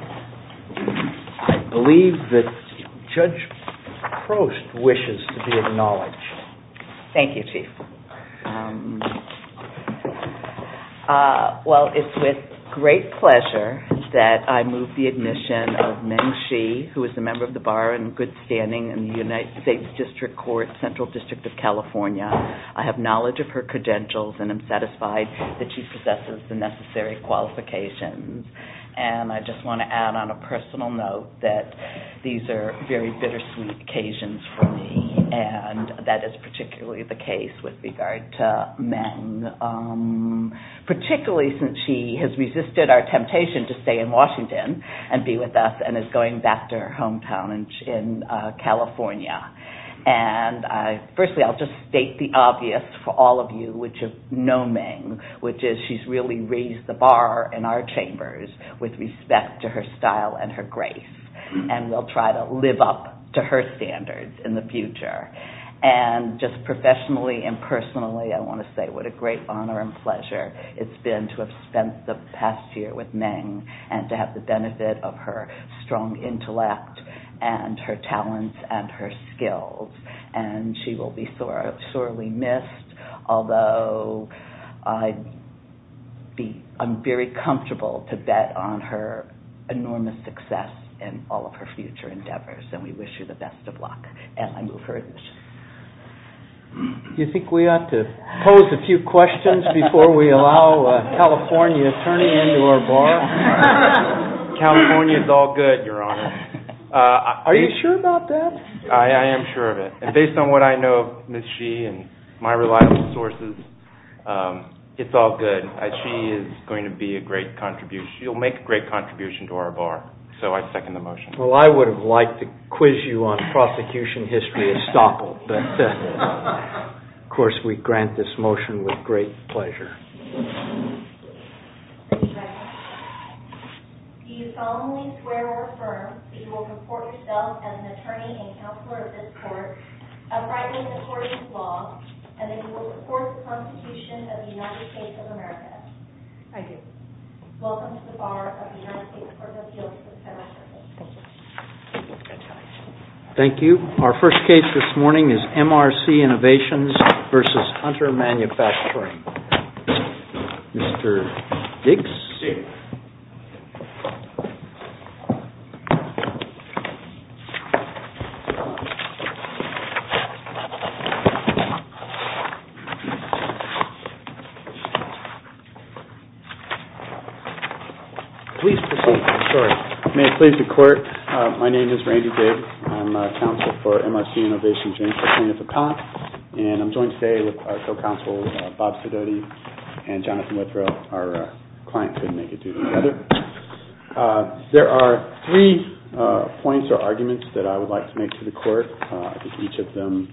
I believe that Judge Prost wishes to be acknowledged. Thank you, Chief. Well, it's with great pleasure that I move the admission of Meng Xi, who is a member of the Bar in good standing in the United States District Court, Central District of California. I have knowledge of her credentials and am satisfied that she possesses the necessary qualifications. And I just want to add on a personal note that these are very bittersweet occasions for me, and that is particularly the case with regard to Meng, particularly since she has resisted our temptation to stay in Washington and be with us and is going back to her hometown in California. And firstly, I'll just state the obvious for all of you, which is no Meng, which is she's really raised the bar in our chambers with respect to her style and her grace, and will try to live up to her standards in the future. And just professionally and personally, I want to say what a great honor and pleasure it's been to have spent the past year with Meng and to have the benefit of her strong intellect and her talents and her skills. And she will be sorely missed, although I'm very comfortable to bet on her enormous success in all of her future endeavors. And we wish you the best of luck. And I move her admission. Do you think we ought to pose a few questions before we allow a California attorney into our bar? California is all good, Your Honor. Are you sure about that? I am sure of it. And based on what I know of Ms. Xi and my reliable sources, it's all good. Xi is going to be a great contribution. She'll make a great contribution to our bar. So I second the motion. Well, I would have liked to quiz you on prosecution history at Stopple, but of course we grant this motion with great pleasure. Thank you, Your Honor. Do you solemnly swear or affirm that you will support yourself as an attorney and counselor of this court, abiding in the court's law, and that you will support the prosecution of the United States of America? I do. Welcome to the bar of the United States Court of Appeals of the Federal District. Thank you. Thank you. Thank you. Our first case this morning is MRC Innovations v. Hunter Manufacturing. Mr. Diggs? Here. Please proceed. I'm sorry. May it please the Court. My name is Randy Diggs. I'm a counselor for MRC Innovations. I'm a plaintiff appellant, and I'm joined today with our co-counsel, Bob Sidoti, and Jonathan Withrow, our client couldn't make it due together. There are three points or arguments that I would like to make to the Court. I think each of them,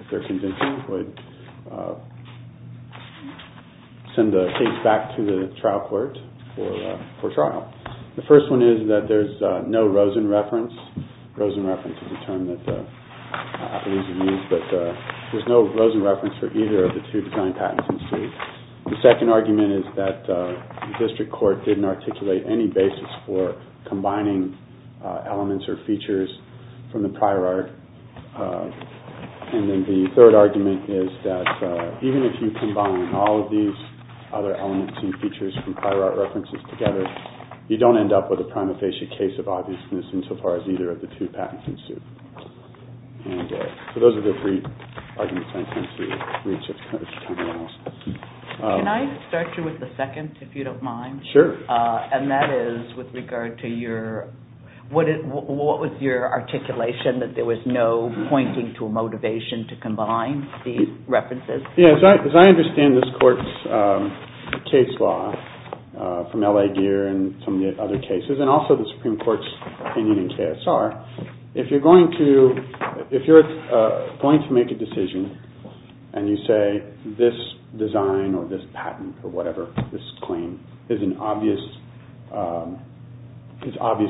if they're convincing, would send the case back to the trial court for trial. The first one is that there's no Rosen reference. Rosen reference is a term that appellees have used, but there's no Rosen reference for either of the two design patents in suit. The second argument is that the district court didn't articulate any basis for combining elements or features from the prior art. And then the third argument is that even if you combine all of these other elements and features from prior art references together, you don't end up with a prima facie case of obviousness insofar as either of the two patents in suit. So those are the three arguments I intend to reach at this time. Can I start you with the second, if you don't mind? Sure. And that is with regard to your, what was your articulation, that there was no pointing to a motivation to combine these references? As I understand this court's case law from L.A. Gear and some of the other cases, and also the Supreme Court's opinion in KSR, if you're going to make a decision and you say this design or this patent or whatever, this claim is obvious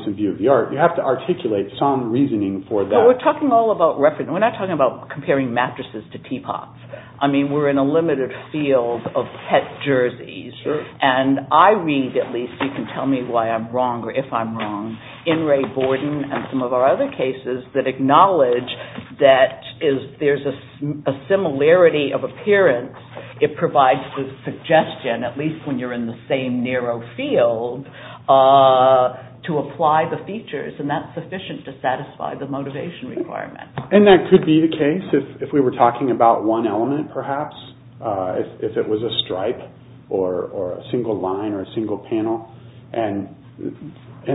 in view of the art, you have to articulate some reasoning for that. We're not talking about comparing mattresses to teapots. I mean, we're in a limited field of pet jerseys. Sure. And I read at least, you can tell me why I'm wrong or if I'm wrong, in Ray Borden and some of our other cases that acknowledge that there's a similarity of appearance. It provides the suggestion, at least when you're in the same narrow field, to apply the features and that's sufficient to satisfy the motivation requirement. And that could be the case if we were talking about one element perhaps, if it was a stripe or a single line or a single panel. And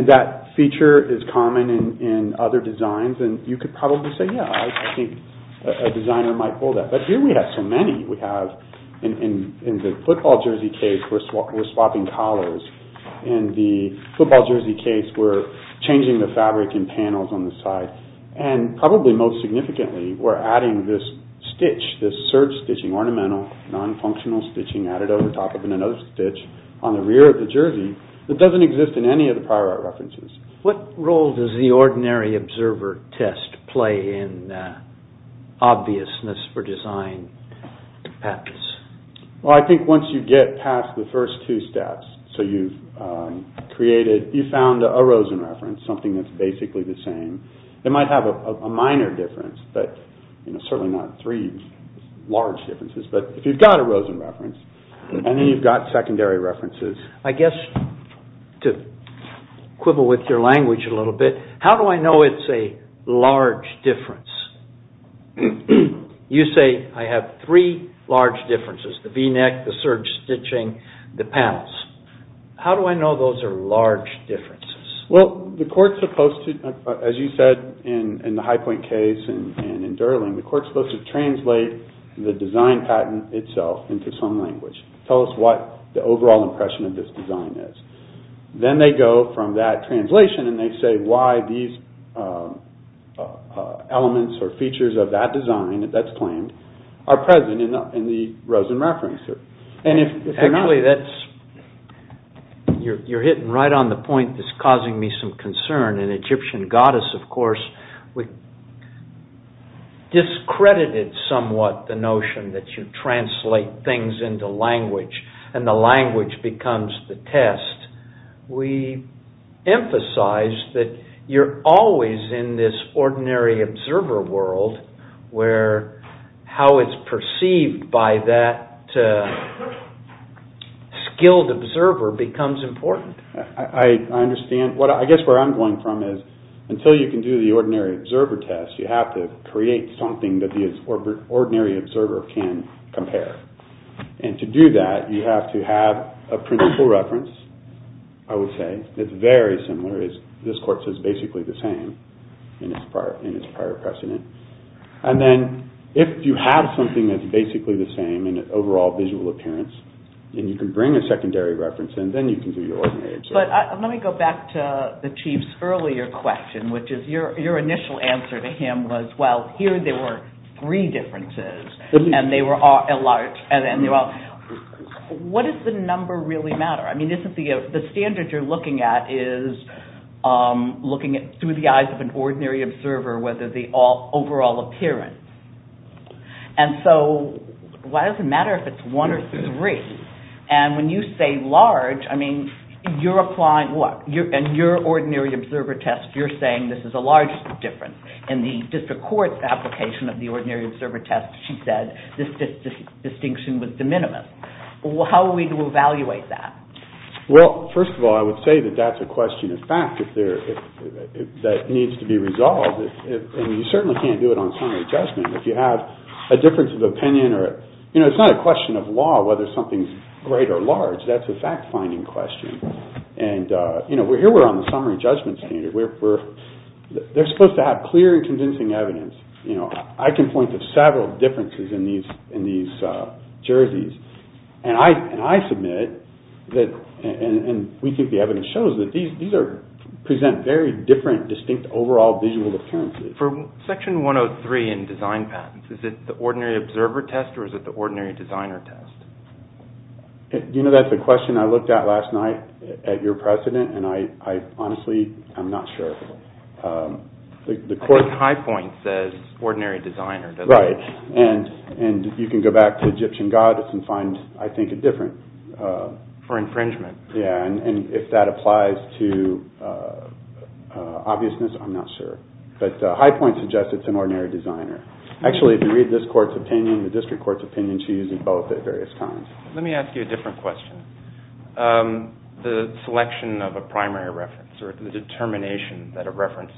that feature is common in other designs and you could probably say, yeah, I think a designer might pull that. But here we have so many. We have in the football jersey case, we're swapping collars. In the football jersey case, we're changing the fabric and panels on the side. And probably most significantly, we're adding this stitch, this surge stitching, ornamental, non-functional stitching added over top of another stitch on the rear of the jersey that doesn't exist in any of the prior art references. What role does the ordinary observer test play in obviousness for design patents? Well, I think once you get past the first two steps, so you've created, you found a Rosen reference, something that's basically the same. It might have a minor difference, but certainly not three large differences. But if you've got a Rosen reference and then you've got secondary references. I guess to quibble with your language a little bit, how do I know it's a large difference? You say I have three large differences, the V-neck, the surge stitching, the panels. How do I know those are large differences? Well, the court's supposed to, as you said in the Highpoint case and in Durling, the court's supposed to translate the design patent itself into some language. Tell us what the overall impression of this design is. Then they go from that translation and they say why these elements or features of that design that's claimed are present in the Rosen reference. Actually, you're hitting right on the point that's causing me some concern. In Egyptian Goddess, of course, we discredited somewhat the notion that you translate things into language and the language becomes the test. We emphasize that you're always in this ordinary observer world where how it's perceived by that skilled observer becomes important. I understand. I guess where I'm going from is until you can do the ordinary observer test, you have to create something that the ordinary observer can compare. To do that, you have to have a principle reference, I would say. It's very similar. This court says basically the same in its prior precedent. Then if you have something that's basically the same in its overall visual appearance and you can bring a secondary reference in, then you can do your ordinary observer test. Let me go back to the Chief's earlier question, which is your initial answer to him was, well, here there were three differences and they were all large. What does the number really matter? The standard you're looking at is looking through the eyes of an ordinary observer, whether the overall appearance. Why does it matter if it's one or three? When you say large, you're applying what? In your ordinary observer test, you're saying this is a large difference. In the district court's application of the ordinary observer test, she said this distinction was de minimis. How are we to evaluate that? First of all, I would say that that's a question of fact that needs to be resolved. You certainly can't do it on summary judgment. If you have a difference of opinion, it's not a question of law whether something's great or large. That's a fact-finding question. Here we're on the summary judgment standard. They're supposed to have clear and convincing evidence. I can point to several differences in these jerseys. I submit, and we think the evidence shows, that these present very different distinct overall visual appearances. For Section 103 in design patents, is it the ordinary observer test or is it the ordinary designer test? Do you know that's a question I looked at last night at your precedent? Honestly, I'm not sure. I think Highpoint says ordinary designer, doesn't it? Right, and you can go back to Egyptian Goddess and find, I think, a different... For infringement. Yeah, and if that applies to obviousness, I'm not sure. But Highpoint suggests it's an ordinary designer. Actually, if you read this court's opinion, the district court's opinion, she uses both at various times. Let me ask you a different question. The selection of a primary reference or the determination that a reference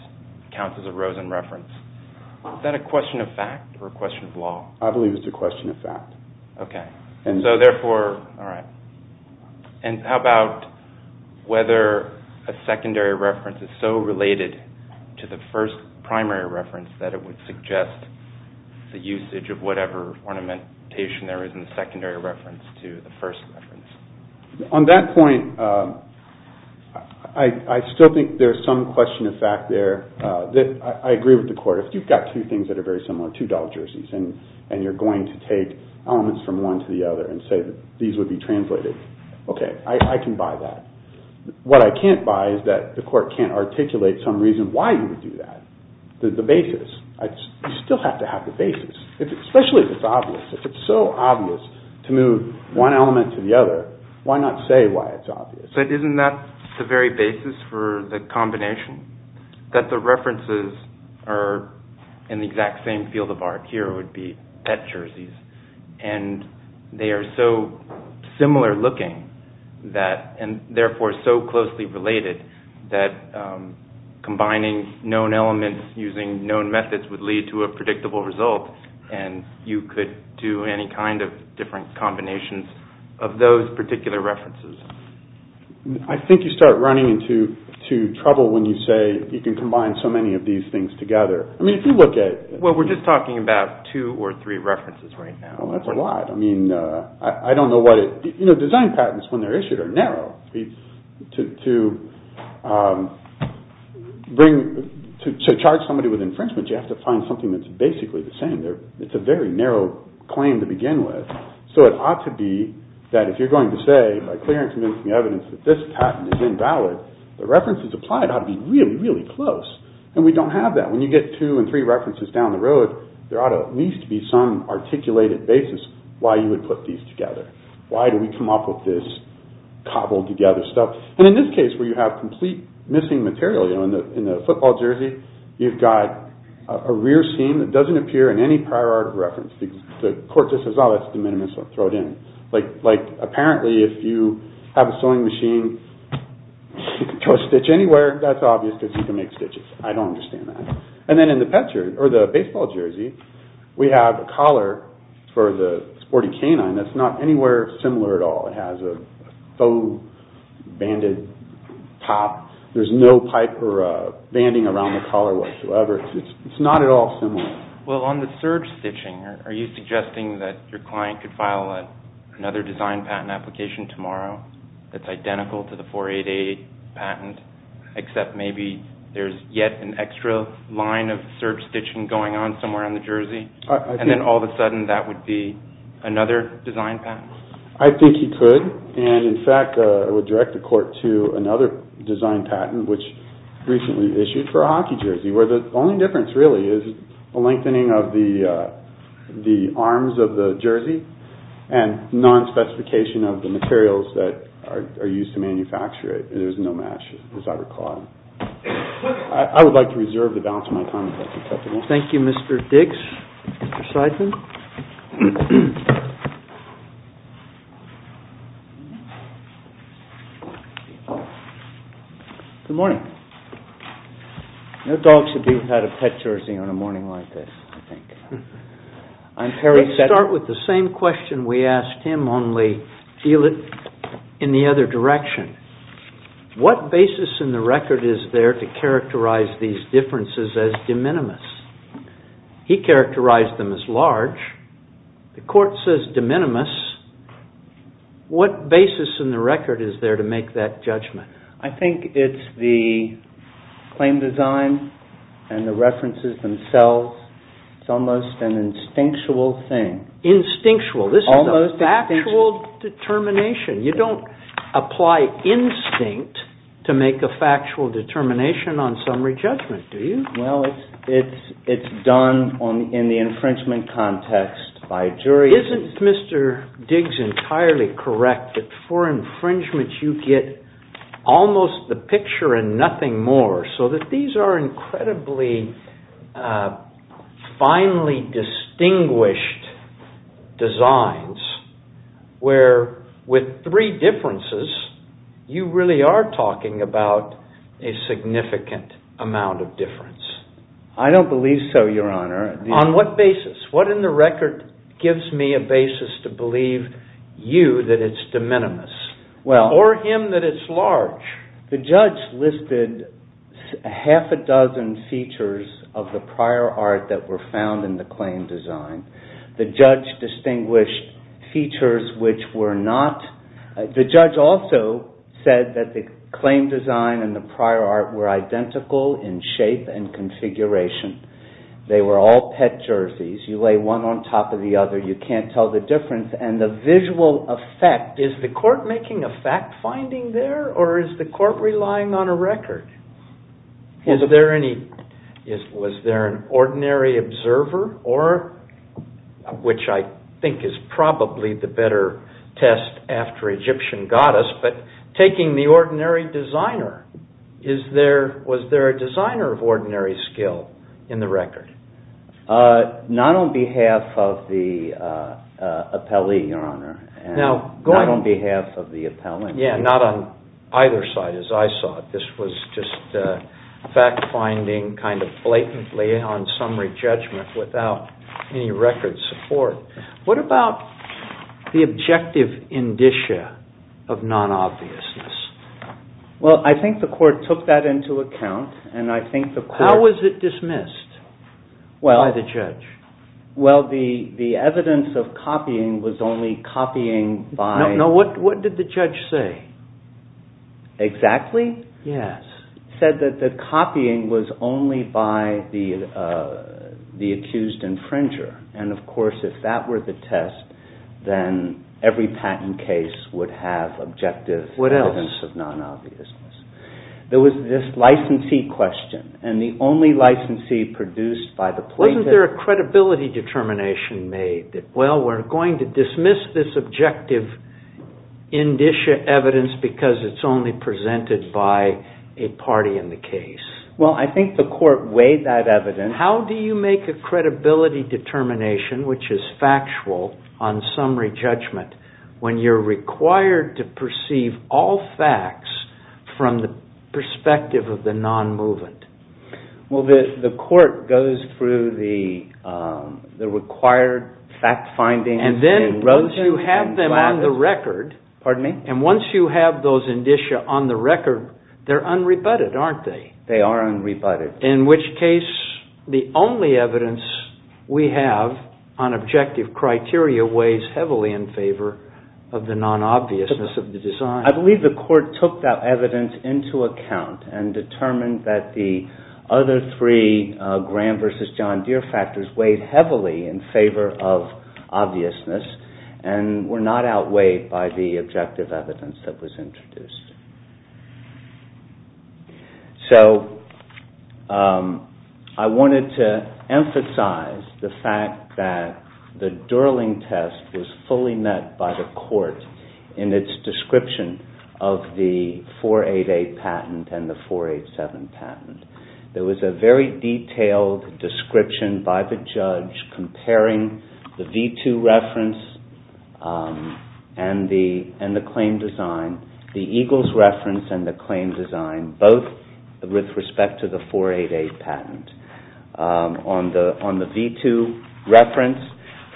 counts as a Rosen reference, is that a question of fact or a question of law? I believe it's a question of fact. Okay, and so therefore... All right, and how about whether a secondary reference is so related to the first primary reference that it would suggest the usage of whatever ornamentation there is in the secondary reference to the first reference? On that point, I still think there's some question of fact there. I agree with the court. If you've got two things that are very similar, two doll jerseys, and you're going to take elements from one to the other and say that these would be translated, okay, I can buy that. What I can't buy is that the court can't articulate some reason why you would do that, the basis. You still have to have the basis, especially if it's obvious. To move one element to the other, why not say why it's obvious? But isn't that the very basis for the combination? That the references are in the exact same field of art here would be pet jerseys, and they are so similar looking and therefore so closely related that combining known elements using known methods would lead to a predictable result, and you could do any kind of different combinations of those particular references. I think you start running into trouble when you say you can combine so many of these things together. We're just talking about two or three references right now. That's a lot. Design patents, when they're issued, are narrow. To charge somebody with infringement, you have to find something that's basically the same. It's a very narrow claim to begin with. So it ought to be that if you're going to say, by clear and convincing evidence, that this patent is invalid, the references applied ought to be really, really close, and we don't have that. When you get two and three references down the road, there ought to at least be some articulated basis why you would put these together. Why do we come up with this cobbled together stuff? And in this case, where you have complete missing material, in the football jersey, you've got a rear seam that doesn't appear in any prior art reference. The court just says, oh, that's de minimis, so throw it in. Like, apparently, if you have a sewing machine, throw a stitch anywhere, that's obvious because you can make stitches. I don't understand that. And then in the baseball jersey, we have a collar for the sporty canine that's not anywhere similar at all. It has a faux banded top. There's no pipe or banding around the collar whatsoever. It's not at all similar. Well, on the serge stitching, are you suggesting that your client could file another design patent application tomorrow that's identical to the 488 patent, except maybe there's yet an extra line of serge stitching going on somewhere on the jersey, and then all of a sudden that would be another design patent? I think he could, and in fact, it would direct the court to another design patent which recently issued for a hockey jersey, where the only difference, really, is a lengthening of the arms of the jersey and non-specification of the materials that are used to manufacture it. There's no match, as I recall. I would like to reserve the balance of my time if that's acceptable. Thank you, Mr. Dix. Mr. Seidman? Good morning. No dog should be without a pet jersey on a morning like this, I think. Let's start with the same question we asked him, only feel it in the other direction. What basis in the record is there to characterize these differences as de minimis? He characterized them as large. The court says de minimis. What basis in the record is there to make that judgment? I think it's the claim design and the references themselves. It's almost an instinctual thing. Instinctual? This is a factual determination. You don't apply instinct to make a factual determination on summary judgment, do you? Well, it's done in the infringement context by a jury. Isn't Mr. Dix entirely correct that for infringements you get almost the picture and nothing more so that these are incredibly finely distinguished designs where with three differences you really are talking about a significant amount of difference? I don't believe so, Your Honor. On what basis? What in the record gives me a basis to believe you that it's de minimis? Or him that it's large? The judge listed half a dozen features of the prior art that were found in the claim design. The judge distinguished features which were not... The judge also said that the claim design and the prior art were identical in shape and configuration. They were all pet jerseys. You lay one on top of the other. You can't tell the difference. And the visual effect... Is the court making a fact-finding there or is the court relying on a record? Was there an ordinary observer? Which I think is probably the better test after Egyptian goddess. But taking the ordinary designer, was there a designer of ordinary skill in the record? Not on behalf of the appellee, Your Honor. Not on behalf of the appellee. Yeah, not on either side as I saw it. This was just fact-finding kind of blatantly on summary judgment without any record support. What about the objective indicia of non-obviousness? Well, I think the court took that into account and I think the court... How was it dismissed by the judge? Well, the evidence of copying was only copying by... No, what did the judge say? Exactly? Yes. He said that the copying was only by the accused infringer. And of course, if that were the test, then every patent case would have objective evidence of non-obviousness. There was this licensee question, and the only licensee produced by the plaintiff... Wasn't there a credibility determination made that, well, we're going to dismiss this objective indicia evidence because it's only presented by a party in the case? Well, I think the court weighed that evidence... How do you make a credibility determination, which is factual on summary judgment, when you're required to perceive all facts from the perspective of the non-movement? Well, the court goes through the required fact findings... And then once you have them on the record... Pardon me? And once you have those indicia on the record, they're unrebutted, aren't they? They are unrebutted. In which case, the only evidence we have on objective criteria weighs heavily in favor of the non-obviousness of the design. I believe the court took that evidence into account and determined that the other three Graham v. John Deere factors weighed heavily in favor of obviousness and were not outweighed by the objective evidence that was introduced. So, I wanted to emphasize the fact that the Durling test was fully met by the court in its description of the 488 patent and the 487 patent. There was a very detailed description by the judge comparing the V2 reference and the claim design. The Eagles reference and the claim design, both with respect to the 488 patent. On the V2 reference,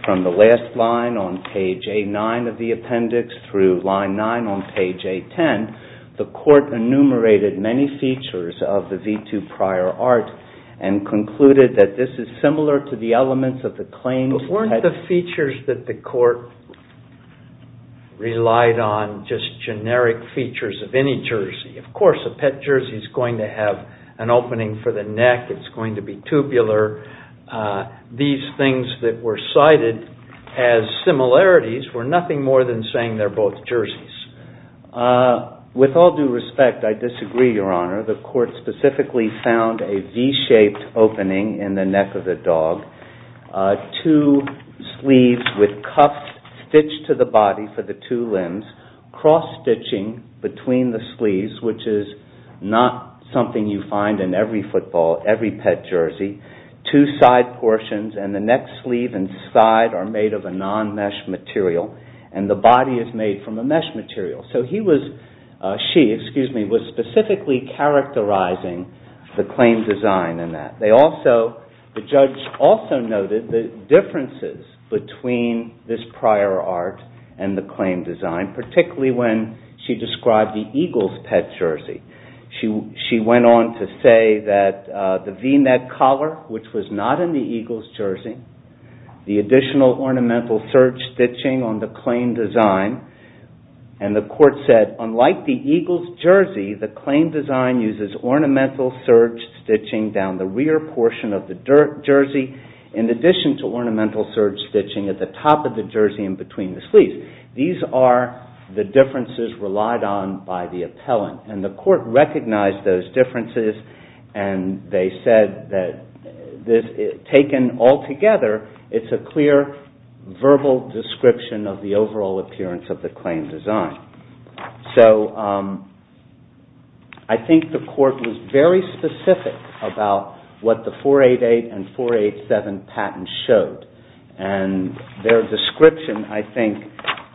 from the last line on page A9 of the appendix through line 9 on page A10, the court enumerated many features of the V2 prior art and concluded that this is similar to the elements of the claims... Of course, a pet jersey is going to have an opening for the neck. It's going to be tubular. These things that were cited as similarities were nothing more than saying they're both jerseys. With all due respect, I disagree, Your Honor. The court specifically found a V-shaped opening in the neck of the dog, cross-stitching between the sleeves, which is not something you find in every football, every pet jersey. Two side portions and the neck sleeve and side are made of a non-mesh material, and the body is made from a mesh material. She was specifically characterizing the claim design in that. The judge also noted the differences between this prior art and the claim design, particularly when she described the Eagles' pet jersey. She went on to say that the V-neck collar, which was not in the Eagles' jersey, the additional ornamental serge stitching on the claim design, and the court said, unlike the Eagles' jersey, the claim design uses ornamental serge stitching down the rear portion of the jersey in addition to ornamental serge stitching at the top of the jersey and between the sleeves. These are the differences relied on by the appellant, and the court recognized those differences and they said that taken all together, it's a clear verbal description of the overall appearance of the claim design. So I think the court was very specific about what the 488 and 487 patents showed, and their description, I think,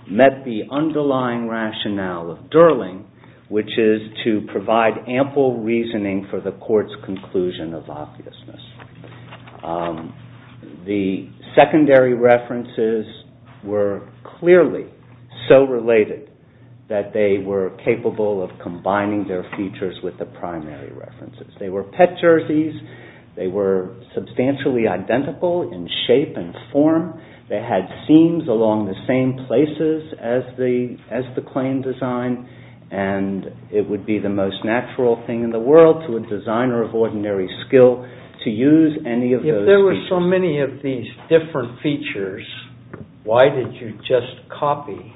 met the underlying rationale of Durling, which is to provide ample reasoning for the court's conclusion of obviousness. The secondary references were clearly so related that they were capable of combining their features with the primary references. They were pet jerseys, they were substantially identical in shape and form, they had seams along the same places as the claim design, and it would be the most natural thing in the world to a designer of ordinary skill to use any of those features. If there were so many of these different features, why did you just copy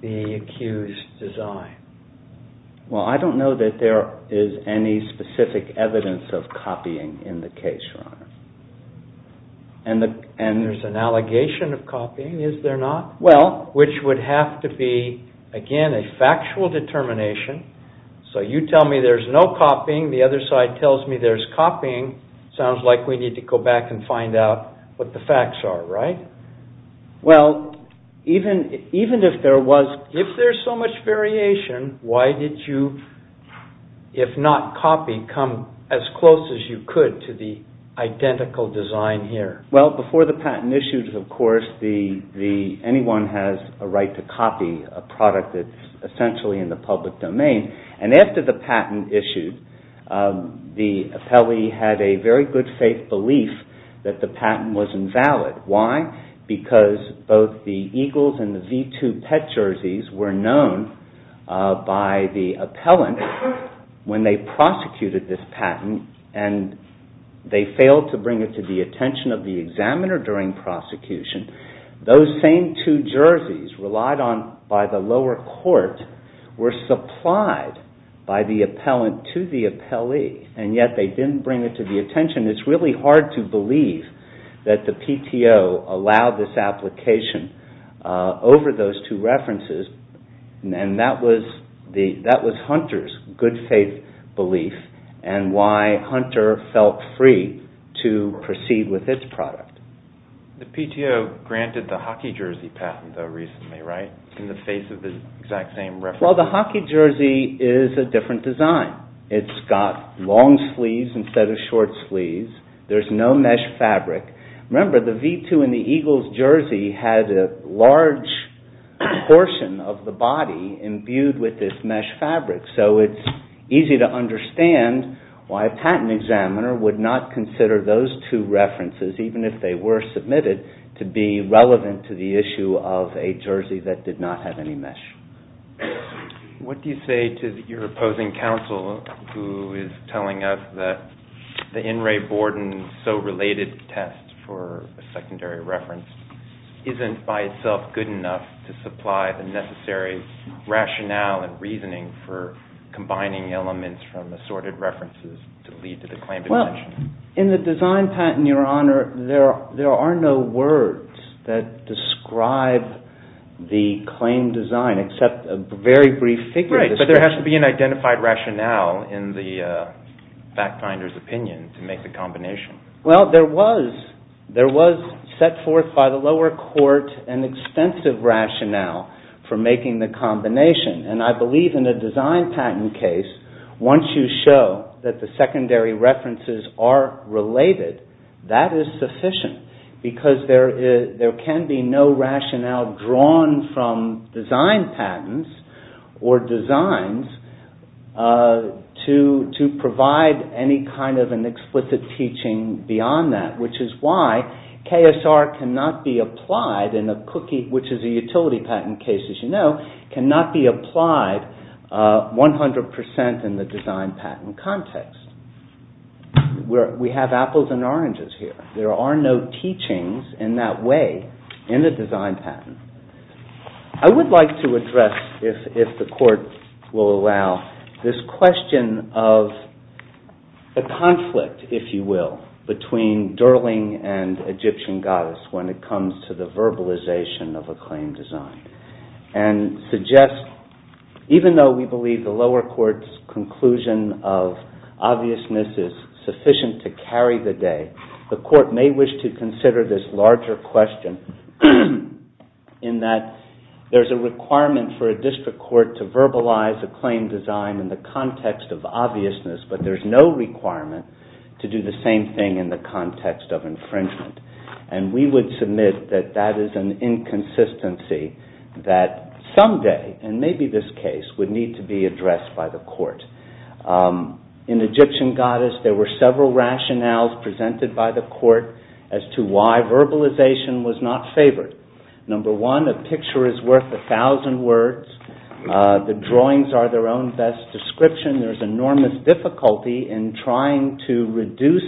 the accused design? Well, I don't know that there is any specific evidence of copying in the case, Your Honor. And there's an allegation of copying, is there not? Well, which would have to be, again, a factual determination. So you tell me there's no copying, the other side tells me there's copying. Sounds like we need to go back and find out what the facts are, right? Well, even if there was, if there's so much variation, why did you, if not copy, come as close as you could to the identical design here? Well, before the patent issued, of course, anyone has a right to copy a product that's essentially in the public domain. And after the patent issued, the appellee had a very good faith belief that the patent was invalid. Why? Because both the Eagles and the V2 Pet jerseys were known by the appellant when they prosecuted this patent and they failed to bring it to the attention of the examiner during prosecution. Those same two jerseys relied on by the lower court were supplied by the appellant to the appellee, and yet they didn't bring it to the attention. It's really hard to believe that the PTO allowed this application over those two references, and that was Hunter's good faith belief and why Hunter felt free to proceed with its product. The PTO granted the hockey jersey patent though recently, right? In the face of the exact same reference. Well, the hockey jersey is a different design. It's got long sleeves instead of short sleeves. There's no mesh fabric. Remember, the V2 and the Eagles jersey had a large portion of the body imbued with this mesh fabric, so it's easy to understand why a patent examiner would not consider those two references, even if they were submitted, to be relevant to the issue of a jersey that did not have any mesh. What do you say to your opposing counsel who is telling us that the In re Borden so-related test for a secondary reference isn't by itself good enough to supply the necessary rationale and reasoning for combining elements from assorted references to lead to the claim dimension? Well, in the design patent, Your Honor, there are no words that describe the claim design except a very brief figure description. Right, but there has to be an identified rationale in the fact finder's opinion to make the combination. Well, there was set forth by the lower court an extensive rationale for making the combination, and I believe in a design patent case, once you show that the secondary references are related, that is sufficient because there can be no rationale drawn from design patents or designs to provide any kind of an explicit teaching beyond that, which is why KSR cannot be applied in a cookie, which is a utility patent case, as you know, cannot be applied 100% in the design patent context. We have apples and oranges here. There are no teachings in that way in the design patent. I would like to address, if the court will allow, this question of a conflict, if you will, between Durling and Egyptian goddess when it comes to the verbalization of a claim design, and suggest, even though we believe the lower court's conclusion of obviousness is sufficient to carry the day, the court may wish to consider this larger question in that there's a requirement for a district court to verbalize a claim design in the context of obviousness, but there's no requirement to do the same thing in the context of infringement, and we would submit that that is an inconsistency that someday, and maybe this case, would need to be addressed by the court. In Egyptian goddess, there were several rationales presented by the court as to why verbalization was not favored. Number one, a picture is worth a thousand words. The drawings are their own best description. There's enormous difficulty in trying to reduce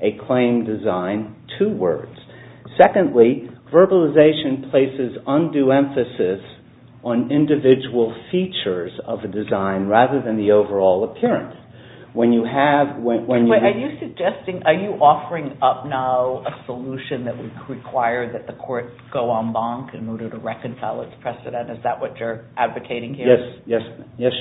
a claim design to words. Secondly, verbalization places undue emphasis on individual features of a design rather than the overall appearance. Are you offering up now a solution that would require that the court go en banc in order to reconcile its precedent? Is that what you're advocating here? Yes, yes.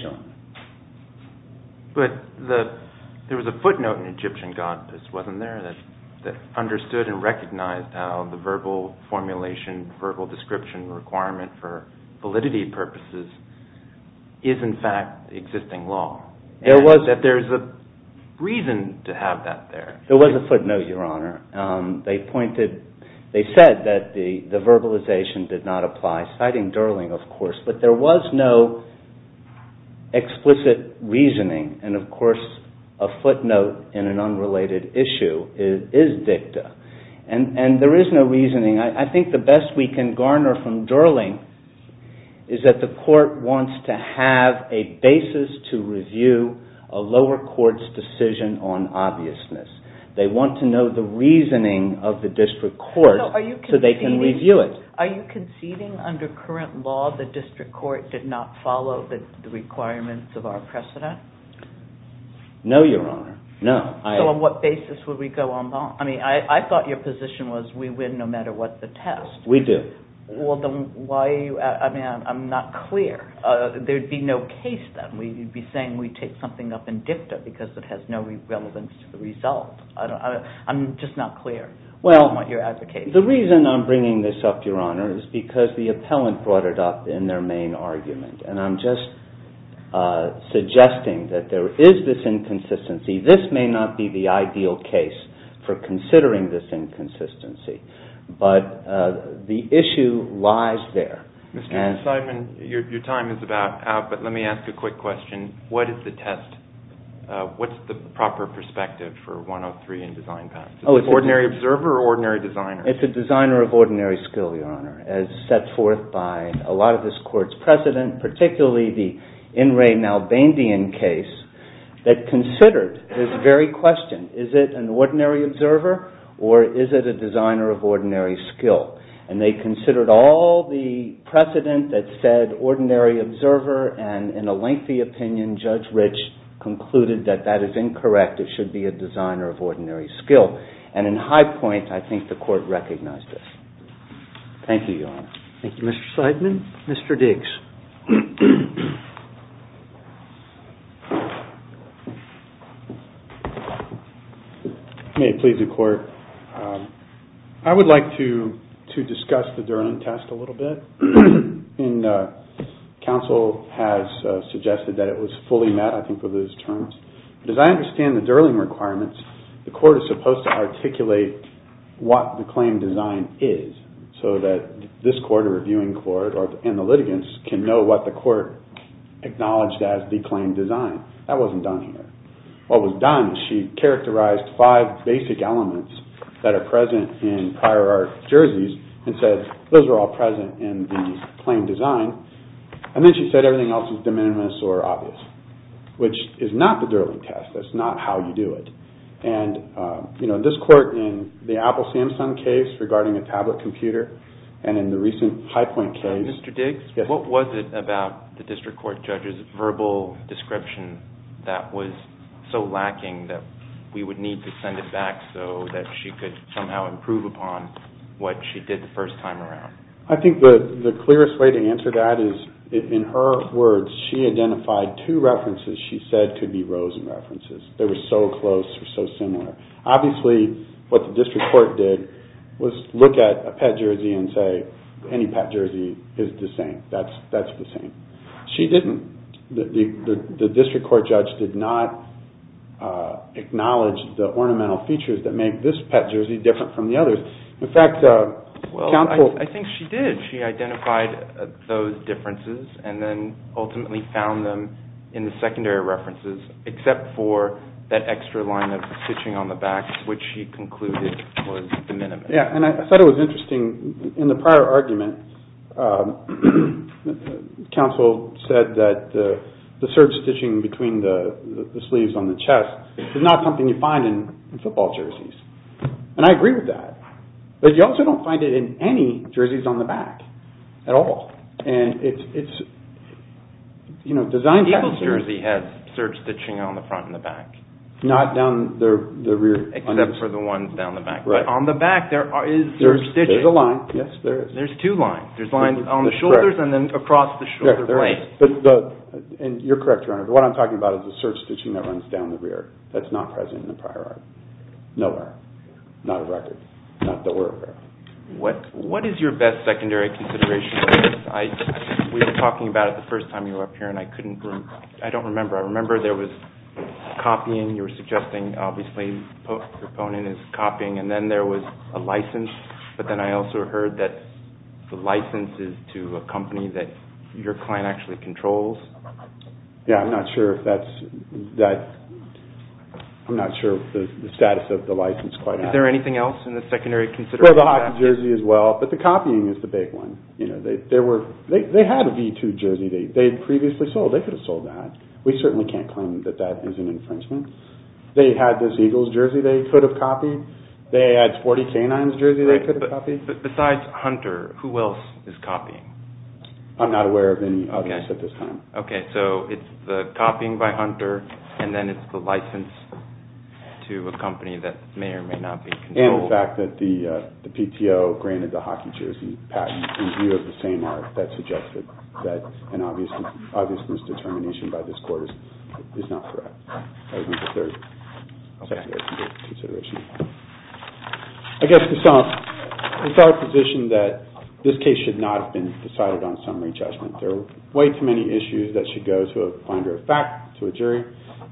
There was a footnote in Egyptian goddess, wasn't there, that understood and recognized the verbal formulation, verbal description requirement for validity purposes is, in fact, existing law, and that there's a reason to have that there. There was a footnote, Your Honor. They said that the verbalization did not apply, citing Durling, of course, but there was no explicit reasoning, and, of course, a footnote in an unrelated issue is dicta, and there is no reasoning. I think the best we can garner from Durling is that the court wants to have a basis to review a lower court's decision on obviousness. They want to know the reasoning of the district court so they can review it. Are you conceding under current law the district court did not follow the requirements of our precedent? No, Your Honor, no. So on what basis would we go en banc? I thought your position was we win no matter what the test. We do. I'm not clear. There'd be no case, then. You'd be saying we take something up in dicta because it has no relevance to the result. I'm just not clear on what you're advocating. The reason I'm bringing this up, Your Honor, is because the appellant brought it up in their main argument, and I'm just suggesting that there is this inconsistency. This may not be the ideal case for considering this inconsistency, but the issue lies there. Mr. Sideman, your time is about out, but let me ask a quick question. What is the test? What's the proper perspective for 103 in Design Pacts? Is it ordinary observer or ordinary designer? It's a designer of ordinary skill, Your Honor, as set forth by a lot of this court's precedent, particularly the In Re Malbandian case that considered this very question. Is it an ordinary observer, or is it a designer of ordinary skill? And they considered all the precedent that said ordinary observer, and in a lengthy opinion, Judge Rich concluded that that is incorrect. It should be a designer of ordinary skill. And in high point, I think the court recognized this. Thank you, Your Honor. Thank you, Mr. Sideman. Mr. Diggs. May it please the court. I would like to discuss the Durling test a little bit. And counsel has suggested that it was fully met, I think, for those terms. As I understand the Durling requirements, the court is supposed to articulate what the claim design is, so that this court, a reviewing court, and the litigants can know what the court acknowledged as the claim design. That wasn't done here. What was done is she characterized five basic elements that are present in prior art jerseys and said, those are all present in the claim design. And then she said everything else is de minimis or obvious, which is not the Durling test. That's not how you do it. And this court, in the Apple Samsung case regarding a tablet computer, and in the recent high point case... Mr. Diggs, what was it about the district court judge's verbal description that was so lacking that we would need to send it back so that she could somehow improve upon what she did the first time around? I think the clearest way to answer that is, in her words, she identified two references she said could be Rosen references. They were so close or so similar. Obviously, what the district court did was look at a pet jersey and say, any pet jersey is the same. That's the same. She didn't. The district court judge did not acknowledge the ornamental features that make this pet jersey different from the others. In fact... Well, I think she did. She identified those differences and then ultimately found them in the secondary references, except for that extra line of stitching on the back, which she concluded was de minimis. Yeah, and I thought it was interesting. In the prior argument, counsel said that the serge stitching between the sleeves on the chest is not something you find in football jerseys. And I agree with that. But you also don't find it in any jerseys on the back at all. And it's designed that way. The Eagles jersey has serge stitching on the front and the back. Not down the rear. Except for the ones down the back. On the back, there is serge stitching. There's a line. Yes, there is. There's two lines. There's lines on the shoulders and then across the shoulder blade. And you're correct, Your Honor. What I'm talking about is the serge stitching that runs down the rear. That's not present in the prior argument. Nowhere. Not a record. Not that we're aware of. What is your best secondary consideration? We were talking about it the first time you were up here and I couldn't... I don't remember. I remember there was copying. You were suggesting, obviously, the proponent is copying. And then there was a license. But then I also heard that the license is to a company that your client actually controls. Yeah, I'm not sure if that's... I'm not sure the status of the license quite is. Is there anything else in the secondary consideration? Well, the Hawkins jersey as well. But the copying is the big one. They had a V2 jersey they previously sold. They could have sold that. We certainly can't claim that that is an infringement. They had this Eagles jersey they could have copied. They had 40 Canines jerseys they could have copied. Besides Hunter, who else is copying? I'm not aware of any others at this time. Okay, so it's the copying by Hunter and then it's the license to a company that may or may not be controlled. And the fact that the PTO granted the hockey jersey patent in view of the same art that suggests that an obviousness determination by this court is not correct. That was my third secondary consideration. I guess it's our position that this case should not have been decided on summary judgment. There are way too many issues that should go to a finder of fact, to a jury,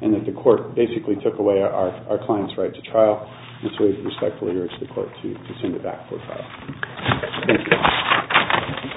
and that the court basically took away our client's right to trial. And so we respectfully urge the court to send it back for trial. Thank you.